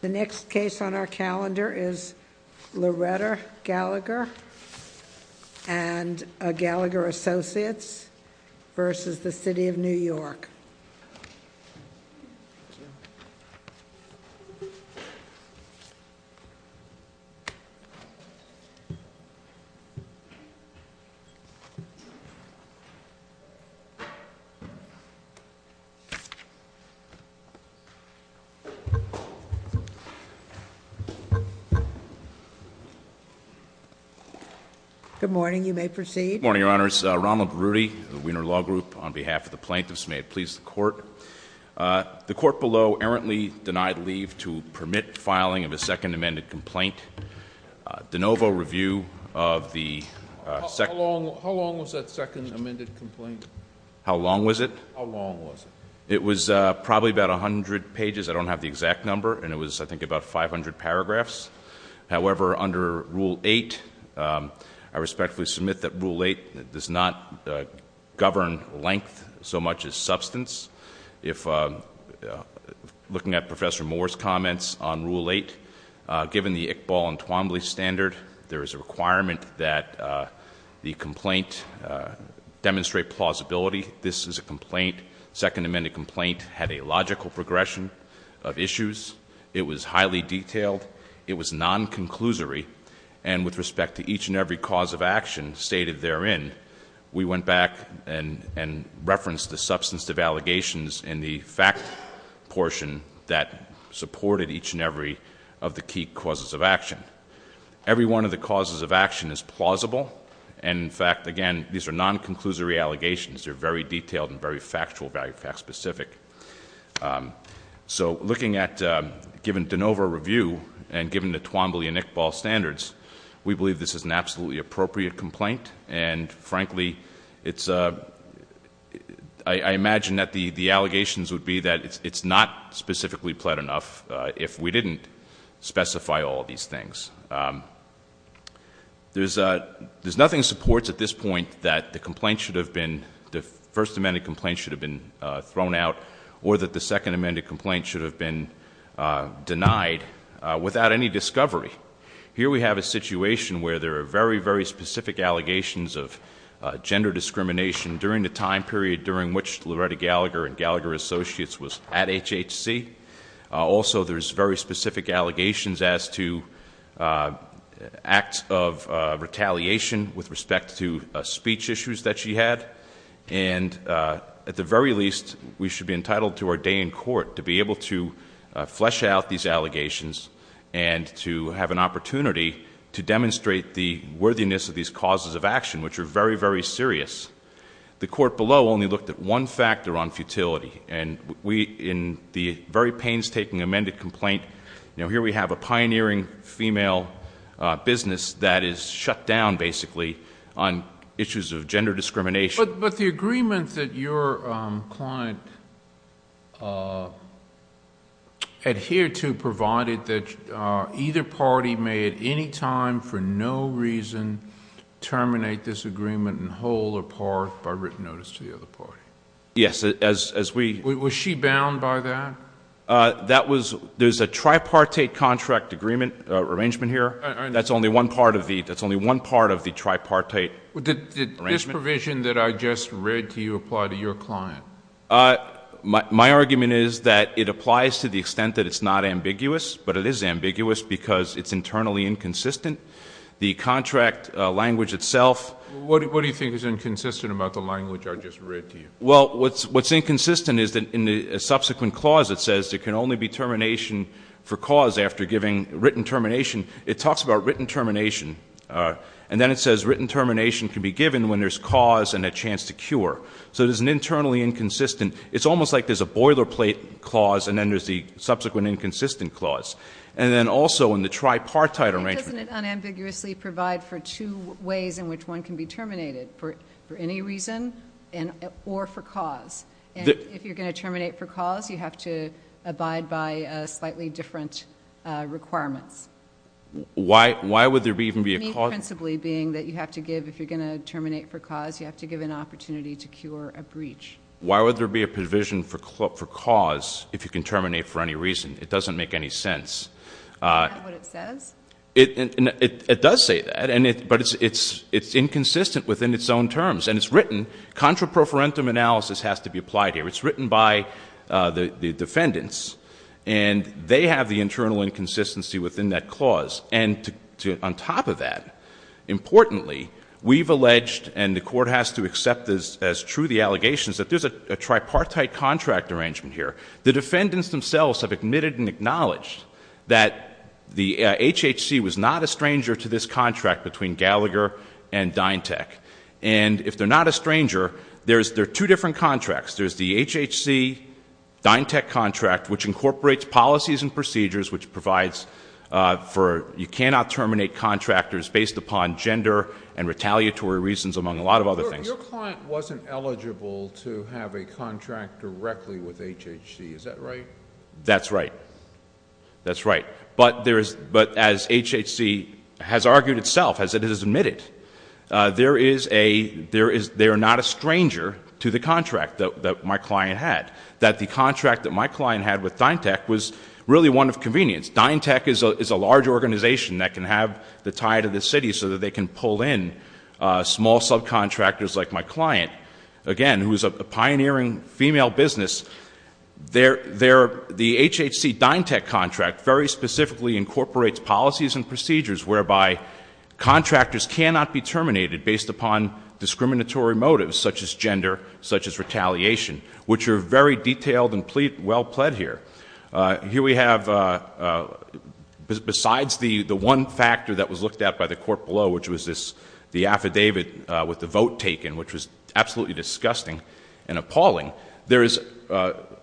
The next case on our calendar is Loretta Gallagher and Gallagher Associates v. the City of New York. Good morning, you may proceed. Good morning, Your Honors. Ronald Berruti of the Wiener Law Group on behalf of the plaintiffs. May it please the court. The court below errantly denied leave to permit filing of a second amended complaint. De novo review of the second. How long was that second amended complaint? How long was it? How long was it? It was probably about 100 pages, I don't have the exact number, and it was I think about 500 paragraphs. However, under Rule 8, I respectfully submit that Rule 8 does not govern length so much as substance. Looking at Professor Moore's comments on Rule 8, given the Iqbal and Twombly standard, there is a requirement that the complaint demonstrate plausibility. This is a complaint, second amended complaint, had a logical progression of issues. It was highly detailed. It was non-conclusory. And with respect to each and every cause of action stated therein, we went back and referenced the substance of allegations and the fact portion that supported each and every of the key causes of action. Every one of the causes of action is plausible. And in fact, again, these are non-conclusory allegations. They're very detailed and very factual, very fact-specific. So looking at, given de novo review and given the Twombly and Iqbal standards, we believe this is an absolutely appropriate complaint. And frankly, I imagine that the allegations would be that it's not specifically pled enough if we didn't specify all these things. There's nothing that supports at this point that the complaint should have been, the first amended complaint should have been thrown out or that the second amended complaint should have been denied without any discovery. Here we have a situation where there are very, very specific allegations of gender discrimination during the time period during which Loretta Gallagher and Gallagher Associates was at HHC. Also, there's very specific allegations as to acts of retaliation with respect to speech issues that she had. And at the very least, we should be entitled to our day in court to be able to flesh out these allegations and to have an opportunity to demonstrate the worthiness of these causes of action, which are very, very serious. The court below only looked at one factor on futility. And we, in the very painstaking amended complaint, here we have a pioneering female business that is shut down, basically, on issues of gender discrimination. But the agreement that your client adhered to provided that either party may at any time for no reason terminate this agreement in whole or part by written notice to the other party. Yes. Was she bound by that? There's a tripartite contract agreement arrangement here. That's only one part of the tripartite arrangement. Did this provision that I just read to you apply to your client? My argument is that it applies to the extent that it's not ambiguous. But it is ambiguous because it's internally inconsistent. The contract language itself. What do you think is inconsistent about the language I just read to you? Well, what's inconsistent is that in the subsequent clause, it says there can only be termination for cause after giving written termination. It talks about written termination. And then it says written termination can be given when there's cause and a chance to cure. So there's an internally inconsistent. It's almost like there's a boilerplate clause and then there's the subsequent inconsistent clause. And then also in the tripartite arrangement. Doesn't it unambiguously provide for two ways in which one can be terminated, for any reason or for cause? If you're going to terminate for cause, you have to abide by slightly different requirements. Why would there even be a cause? Principally being that you have to give, if you're going to terminate for cause, you have to give an opportunity to cure a breach. Why would there be a provision for cause if you can terminate for any reason? It doesn't make any sense. Isn't that what it says? It does say that. But it's inconsistent within its own terms. And it's written. Contra-prophorentum analysis has to be applied here. It's written by the defendants. And they have the internal inconsistency within that clause. And on top of that, importantly, we've alleged and the court has to accept as true the allegations that there's a tripartite contract arrangement here. The defendants themselves have admitted and acknowledged that the HHC was not a stranger to this contract between Gallagher and DynTech. And if they're not a stranger, there are two different contracts. There's the HHC-DynTech contract, which incorporates policies and procedures, which provides for you cannot terminate contractors based upon gender and retaliatory reasons, among a lot of other things. Your client wasn't eligible to have a contract directly with HHC. Is that right? That's right. That's right. But as HHC has argued itself, as it has admitted, they are not a stranger to the contract. That the contract that my client had with DynTech was really one of convenience. DynTech is a large organization that can have the tie to the city so that they can pull in small subcontractors like my client, again, who is a pioneering female business. The HHC-DynTech contract very specifically incorporates policies and procedures whereby contractors cannot be terminated based upon discriminatory motives, such as gender, such as retaliation, which are very detailed and well pled here. Here we have, besides the one factor that was looked at by the court below, which was the affidavit with the vote taken, which was absolutely disgusting and appalling, there is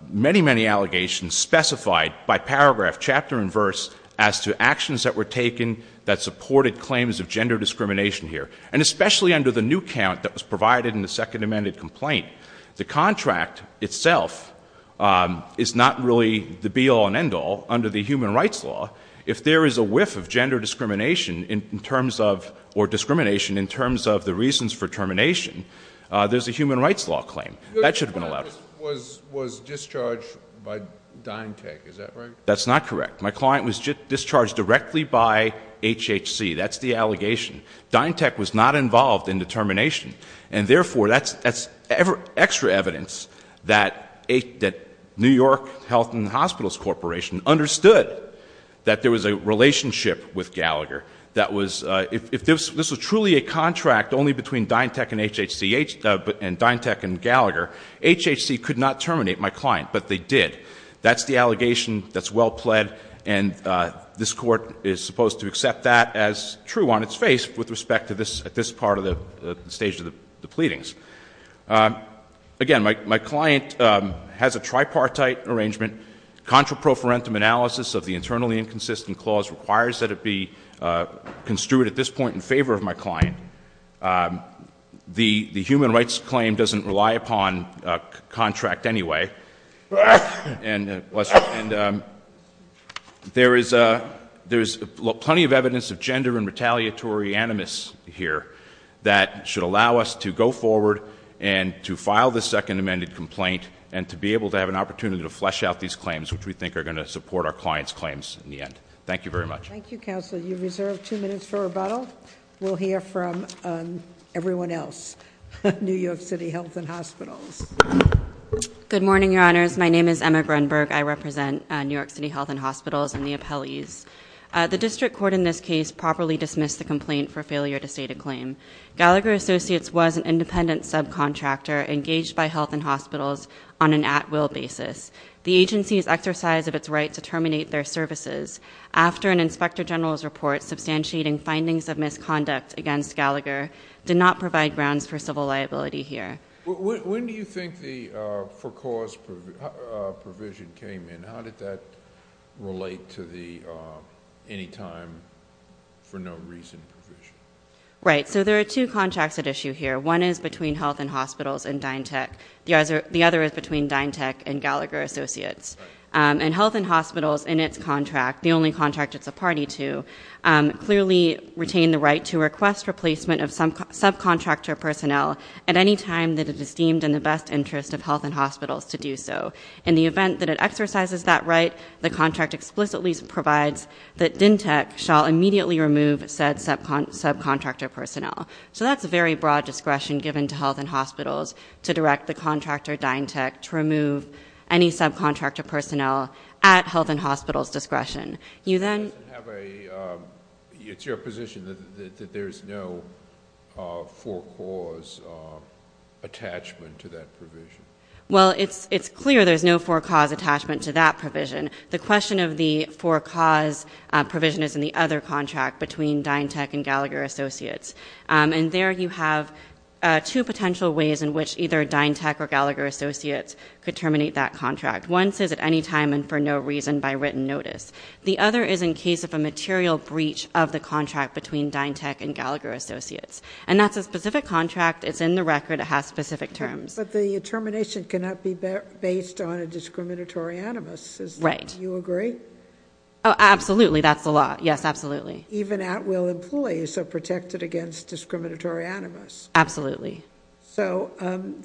many, many allegations specified by paragraph, chapter and verse, as to actions that were taken that supported claims of gender discrimination here. And especially under the new count that was provided in the second amended complaint, the contract itself is not really the be-all and end-all under the human rights law. If there is a whiff of gender discrimination in terms of, or discrimination in terms of the reasons for termination, there's a human rights law claim. That should have been allowed. Your client was discharged by DynTech, is that right? That's not correct. My client was discharged directly by HHC. That's the allegation. DynTech was not involved in the termination. And therefore, that's extra evidence that New York Health and Hospitals Corporation understood that there was a relationship with Gallagher. That was, if this was truly a contract only between DynTech and HHC, and DynTech and Gallagher, HHC could not terminate my client, but they did. That's the allegation that's well pled. And this Court is supposed to accept that as true on its face with respect to this part of the stage of the pleadings. Again, my client has a tripartite arrangement. Contra pro forentum analysis of the internally inconsistent clause requires that it be construed at this point in favor of my client. The human rights claim doesn't rely upon contract anyway. And there's plenty of evidence of gender and retaliatory animus here that should allow us to go forward and to file the second amended complaint and to be able to have an opportunity to flesh out these claims, which we think are going to support our client's claims in the end. Thank you very much. Thank you, Counselor. You reserve two minutes for rebuttal. We'll hear from everyone else. New York City Health and Hospitals. Good morning, your honors. My name is Emma Grunberg. I represent New York City Health and Hospitals and the appellees. The district court in this case properly dismissed the complaint for failure to state a claim. Gallagher Associates was an independent subcontractor engaged by Health and Hospitals on an at-will basis. The agency's exercise of its right to terminate their services after an inspector general's report substantiating findings of misconduct against Gallagher did not provide grounds for civil liability here. When do you think the for cause provision came in? How did that relate to the any time for no reason provision? Right. So there are two contracts at issue here. One is between Health and Hospitals and DynTech. The other is between DynTech and Gallagher Associates. And Health and Hospitals, in its contract, the only contract it's a party to, clearly retained the right to request replacement of subcontractor personnel at any time that it is deemed in the best interest of Health and Hospitals to do so. In the event that it exercises that right, the contract explicitly provides that DynTech shall immediately remove said subcontractor personnel. So that's a very broad discretion given to Health and Hospitals to direct the contractor, DynTech, to remove any subcontractor personnel at Health and Hospitals' discretion. It's your position that there's no for cause attachment to that provision? Well, it's clear there's no for cause attachment to that provision. The question of the for cause provision is in the other contract between DynTech and Gallagher Associates. And there you have two potential ways in which either DynTech or Gallagher Associates could terminate that contract. One says at any time and for no reason by written notice. The other is in case of a material breach of the contract between DynTech and Gallagher Associates. And that's a specific contract. It's in the record. It has specific terms. But the termination cannot be based on a discriminatory animus. Right. Do you agree? Absolutely. That's the law. Yes, absolutely. Even at will employees are protected against discriminatory animus. Absolutely. So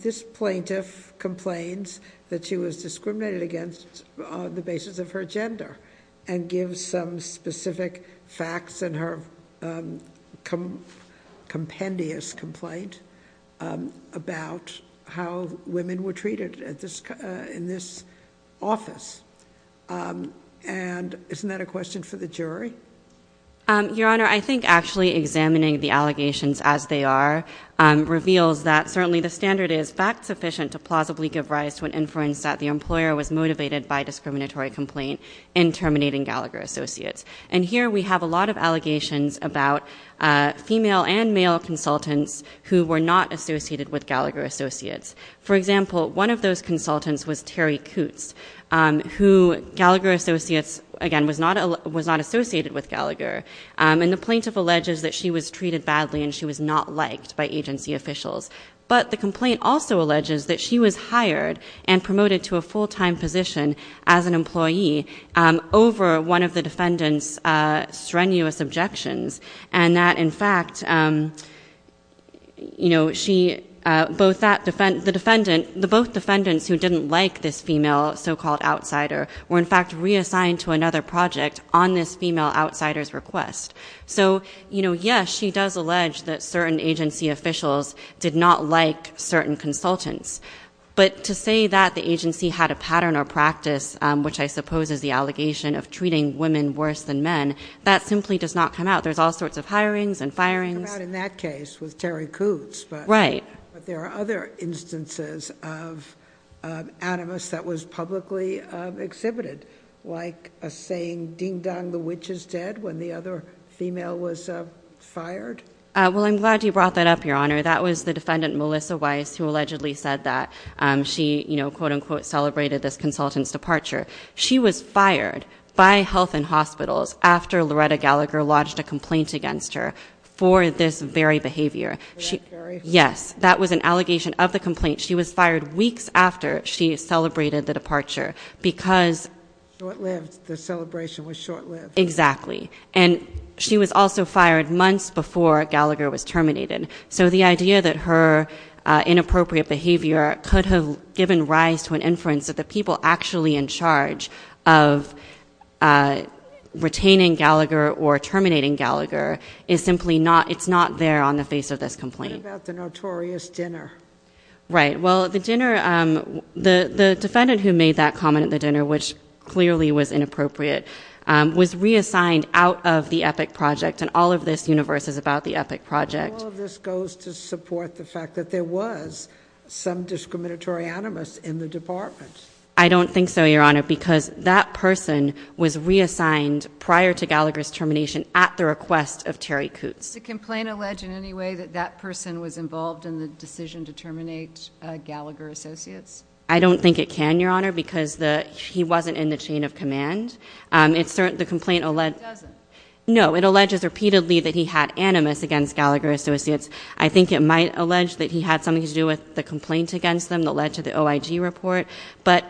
this plaintiff complains that she was discriminated against on the basis of her gender. And gives some specific facts in her compendious complaint about how women were treated in this office. And isn't that a question for the jury? Your Honor, I think actually examining the allegations as they are reveals that certainly the standard is fact sufficient to plausibly give rise to an inference that the employer was motivated by discriminatory complaint in terminating Gallagher Associates. And here we have a lot of allegations about female and male consultants who were not associated with Gallagher Associates. For example, one of those consultants was Terry Coots. Who Gallagher Associates, again, was not associated with Gallagher. And the plaintiff alleges that she was treated badly and she was not liked by agency officials. But the complaint also alleges that she was hired and promoted to a full-time position as an employee over one of the defendant's strenuous objections. And that in fact, the both defendants who didn't like this female so-called outsider were in fact reassigned to another project on this female outsider's request. So yes, she does allege that certain agency officials did not like certain consultants. But to say that the agency had a pattern or practice, which I suppose is the allegation of treating women worse than men, that simply does not come out. There's all sorts of hirings and firings. It didn't come out in that case with Terry Coots. Right. But there are other instances of animus that was publicly exhibited. Like a saying, ding-dong, the witch is dead, when the other female was fired. Well, I'm glad you brought that up, Your Honor. That was the defendant, Melissa Weiss, who allegedly said that she, quote-unquote, celebrated this consultant's departure. She was fired by Health and Hospitals after Loretta Gallagher lodged a complaint against her for this very behavior. For that very? Yes. That was an allegation of the complaint. She was fired weeks after she celebrated the departure because- Short-lived. The celebration was short-lived. Exactly. And she was also fired months before Gallagher was terminated. So the idea that her inappropriate behavior could have given rise to an inference that the people actually in charge of retaining Gallagher or terminating Gallagher is simply not, it's not there on the face of this complaint. What about the notorious dinner? Right. Well, the dinner, the defendant who made that comment at the dinner, which clearly was inappropriate, was reassigned out of the Epic Project. And all of this universe is about the Epic Project. And all of this goes to support the fact that there was some discriminatory animus in the department. I don't think so, Your Honor, because that person was reassigned prior to Gallagher's termination at the request of Terry Coots. Does the complaint allege in any way that that person was involved in the decision to terminate Gallagher Associates? I don't think it can, Your Honor, because he wasn't in the chain of command. The complaint- It doesn't? No, it alleges repeatedly that he had animus against Gallagher Associates. I think it might allege that he had something to do with the complaint against them that led to the OIG report. But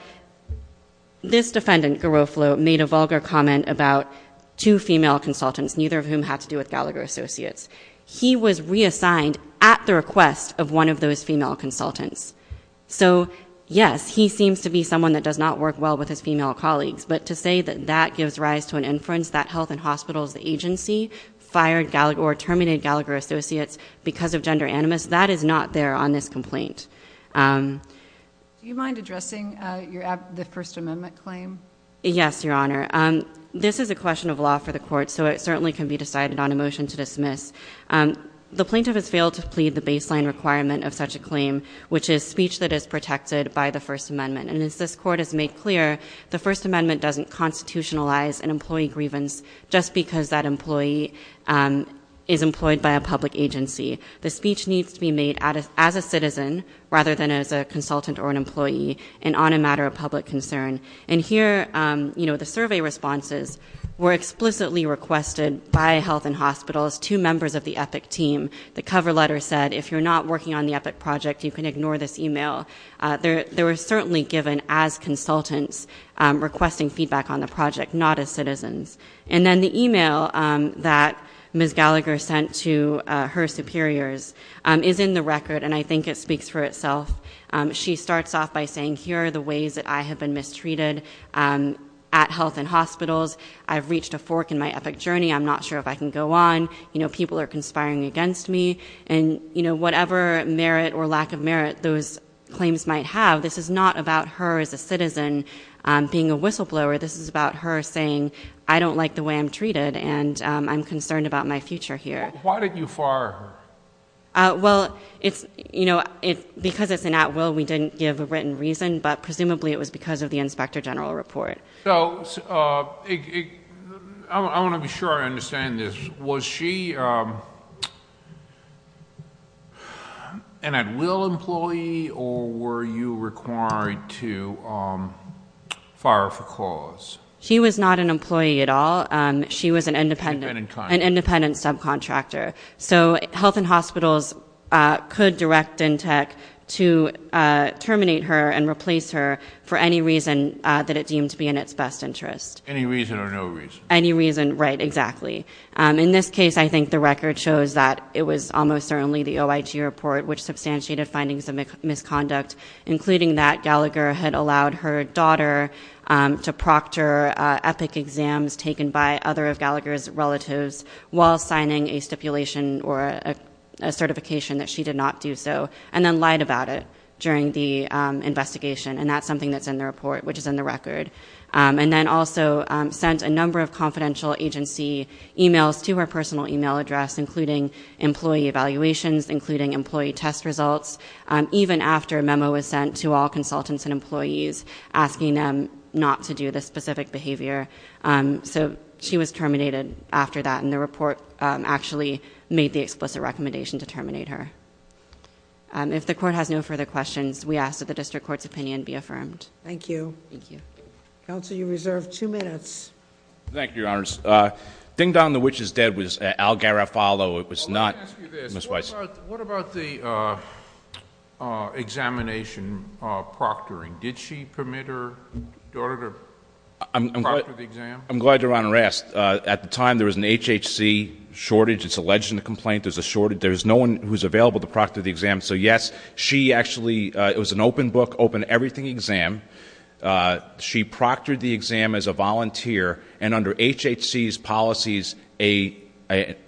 this defendant, Garofalo, made a vulgar comment about two female consultants, neither of whom had to do with Gallagher Associates. He was reassigned at the request of one of those female consultants. So, yes, he seems to be someone that does not work well with his female colleagues, but to say that that gives rise to an inference that Health and Hospitals, the agency, fired or terminated Gallagher Associates because of gender animus, that is not there on this complaint. Do you mind addressing the First Amendment claim? Yes, Your Honor. This is a question of law for the court, so it certainly can be decided on a motion to dismiss. The plaintiff has failed to plead the baseline requirement of such a claim, which is speech that is protected by the First Amendment. And as this court has made clear, the First Amendment doesn't constitutionalize an employee grievance just because that employee is employed by a public agency. The speech needs to be made as a citizen rather than as a consultant or an employee and on a matter of public concern. And here, the survey responses were explicitly requested by Health and Hospitals to members of the EPIC team. The cover letter said, if you're not working on the EPIC project, you can ignore this email. They were certainly given as consultants requesting feedback on the project, not as citizens. And then the email that Ms. Gallagher sent to her superiors is in the record, and I think it speaks for itself. She starts off by saying, here are the ways that I have been mistreated at Health and Hospitals. I've reached a fork in my EPIC journey. I'm not sure if I can go on. People are conspiring against me. And whatever merit or lack of merit those claims might have, this is not about her as a citizen being a whistleblower. This is about her saying, I don't like the way I'm treated, and I'm concerned about my future here. Why did you fire her? Well, because it's an at-will, we didn't give a written reason, but presumably it was because of the Inspector General report. So I want to be sure I understand this. Was she an at-will employee, or were you required to fire her for cause? She was not an employee at all. She was an independent subcontractor. So Health and Hospitals could direct Dentech to terminate her and replace her for any reason that it deemed to be in its best interest. Any reason or no reason? Any reason, right, exactly. In this case, I think the record shows that it was almost certainly the OIG report, which substantiated findings of misconduct, including that Gallagher had allowed her daughter to proctor epic exams taken by other of Gallagher's relatives, while signing a stipulation or a certification that she did not do so, and then lied about it during the investigation. And that's something that's in the report, which is in the record. And then also sent a number of confidential agency e-mails to her personal e-mail address, including employee evaluations, including employee test results, even after a memo was sent to all consultants and employees asking them not to do this specific behavior. So she was terminated after that, and the report actually made the explicit recommendation to terminate her. If the court has no further questions, we ask that the district court's opinion be affirmed. Thank you. Thank you. Counsel, you reserve two minutes. Thank you, Your Honors. Ding-dong, the witch is dead was Al Garofalo. It was not Ms. Weiss. What about the examination proctoring? Did she permit her daughter to proctor the exam? I'm glad Your Honor asked. At the time, there was an HHC shortage. It's alleged in the complaint there's a shortage. There's no one who's available to proctor the exam. So, yes, she actually, it was an open book, open everything exam. She proctored the exam as a volunteer, and under HHC's policies, an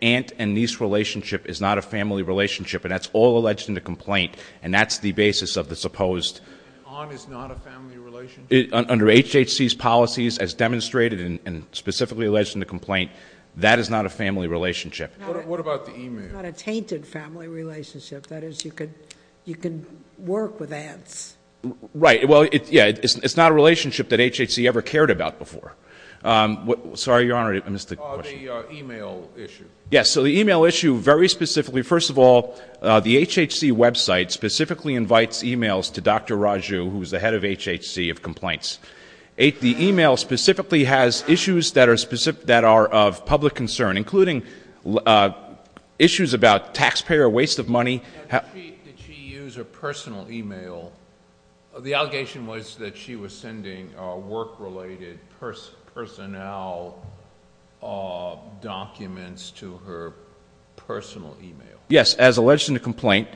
aunt and niece relationship is not a family relationship, and that's all alleged in the complaint, and that's the basis of the supposed- An aunt is not a family relationship? Under HHC's policies as demonstrated and specifically alleged in the complaint, that is not a family relationship. What about the email? It's not a tainted family relationship. That is, you can work with aunts. Right. Well, yeah, it's not a relationship that HHC ever cared about before. Sorry, Your Honor, I missed the question. The email issue. Yes. So the email issue, very specifically, first of all, the HHC website specifically invites emails to Dr. Raju, who is the head of HHC of complaints. The email specifically has issues that are of public concern, including issues about taxpayer waste of money. Did she use a personal email? The allegation was that she was sending work-related personnel documents to her personal email. Yes, as alleged in the complaint.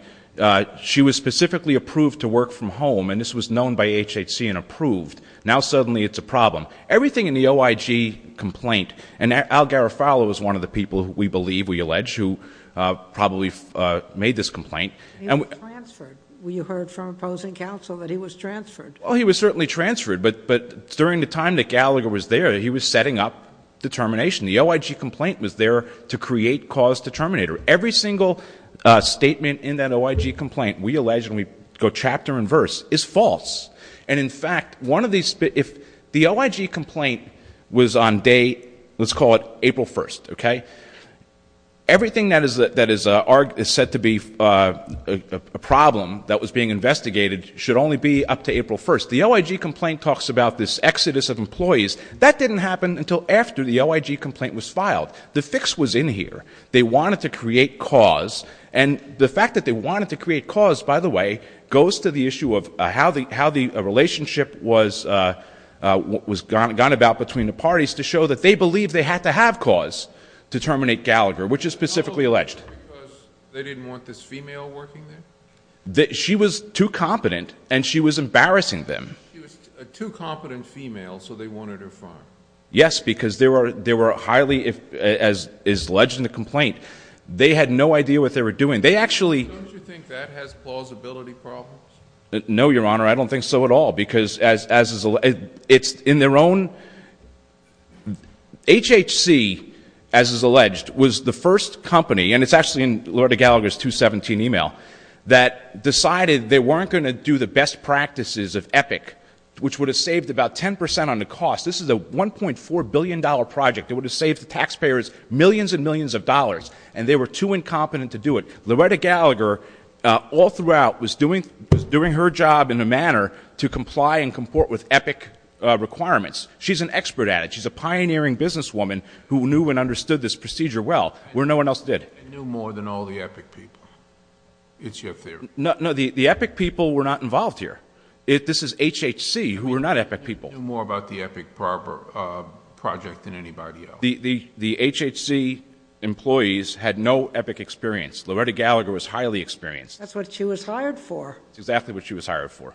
She was specifically approved to work from home, and this was known by HHC and approved. Now suddenly it's a problem. Everything in the OIG complaint, and Al Garofalo is one of the people, we believe, we allege, who probably made this complaint. He was transferred. We heard from opposing counsel that he was transferred. Well, he was certainly transferred, but during the time that Gallagher was there, he was setting up determination. The OIG complaint was there to create cause determinator. Every single statement in that OIG complaint we allege, and we go chapter and verse, is false. And, in fact, if the OIG complaint was on day, let's call it April 1st, okay, everything that is said to be a problem that was being investigated should only be up to April 1st. The OIG complaint talks about this exodus of employees. That didn't happen until after the OIG complaint was filed. The fix was in here. They wanted to create cause, and the fact that they wanted to create cause, by the way, goes to the issue of how the relationship was gone about between the parties to show that they believed they had to have cause to terminate Gallagher, which is specifically alleged. They didn't want this female working there? She was too competent, and she was embarrassing them. She was a too competent female, so they wanted her fired. Yes, because they were highly, as alleged in the complaint, they had no idea what they were doing. Don't you think that has plausibility problems? No, Your Honor, I don't think so at all, because it's in their own HHC, as is alleged, was the first company, and it's actually in Loretta Gallagher's 217 email, that decided they weren't going to do the best practices of EPIC, which would have saved about 10% on the cost. This is a $1.4 billion project. It would have saved the taxpayers millions and millions of dollars, and they were too incompetent to do it. Loretta Gallagher, all throughout, was doing her job in a manner to comply and comport with EPIC requirements. She's an expert at it. She's a pioneering businesswoman who knew and understood this procedure well, where no one else did. I knew more than all the EPIC people. It's your theory. No, the EPIC people were not involved here. This is HHC, who are not EPIC people. I knew more about the EPIC project than anybody else. The HHC employees had no EPIC experience. Loretta Gallagher was highly experienced. That's what she was hired for. That's exactly what she was hired for.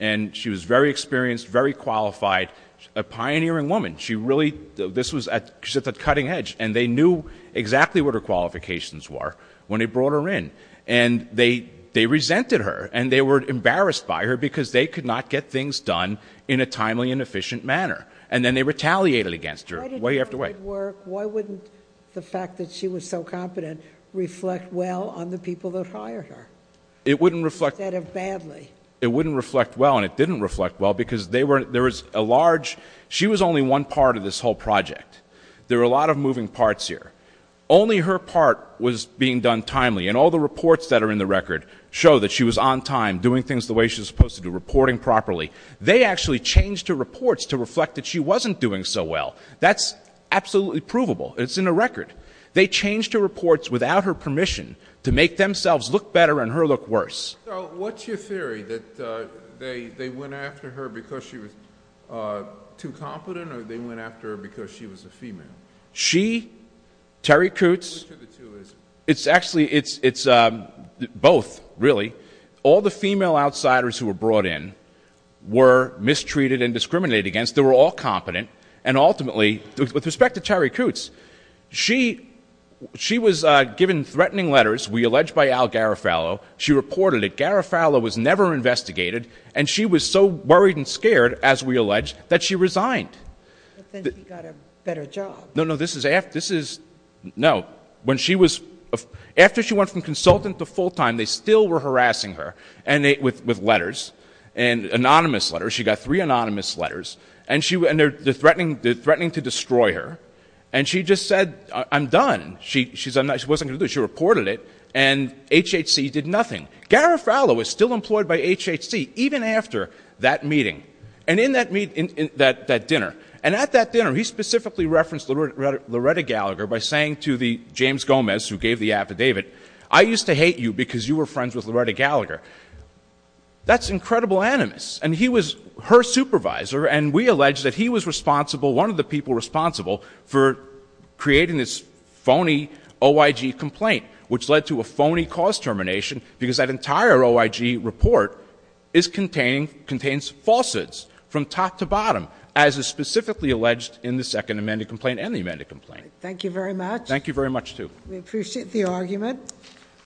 And she was very experienced, very qualified, a pioneering woman. She really, this was at the cutting edge, and they knew exactly what her qualifications were when they brought her in. And they resented her, and they were embarrassed by her because they could not get things done in a timely and efficient manner. And then they retaliated against her way after way. Why didn't it work? Why wouldn't the fact that she was so competent reflect well on the people that hired her instead of badly? It wouldn't reflect well, and it didn't reflect well because there was a large, she was only one part of this whole project. There were a lot of moving parts here. Only her part was being done timely, and all the reports that are in the record show that she was on time, doing things the way she was supposed to do, reporting properly. They actually changed her reports to reflect that she wasn't doing so well. That's absolutely provable. It's in the record. They changed her reports without her permission to make themselves look better and her look worse. So what's your theory, that they went after her because she was too competent, or they went after her because she was a female? She, Terry Coots. Which of the two is it? It's actually, it's both, really. All the female outsiders who were brought in were mistreated and discriminated against. They were all competent, and ultimately, with respect to Terry Coots, she was given threatening letters, we allege, by Al Garofalo. She reported it. Garofalo was never investigated, and she was so worried and scared, as we allege, that she resigned. But then she got a better job. No, no, this is, no. After she went from consultant to full-time, they still were harassing her with letters, anonymous letters. She got three anonymous letters, and they're threatening to destroy her. And she just said, I'm done. She wasn't going to do it. She reported it, and HHC did nothing. Garofalo was still employed by HHC, even after that meeting, and in that dinner. And at that dinner, he specifically referenced Loretta Gallagher by saying to James Gomez, who gave the affidavit, I used to hate you because you were friends with Loretta Gallagher. That's incredible animus. And he was her supervisor, and we allege that he was responsible, one of the people responsible, for creating this phony OIG complaint, which led to a phony cause termination, because that entire OIG report contains falsehoods from top to bottom, as is specifically alleged in the second amended complaint and the amended complaint. Thank you very much. Thank you very much, too. We appreciate the argument.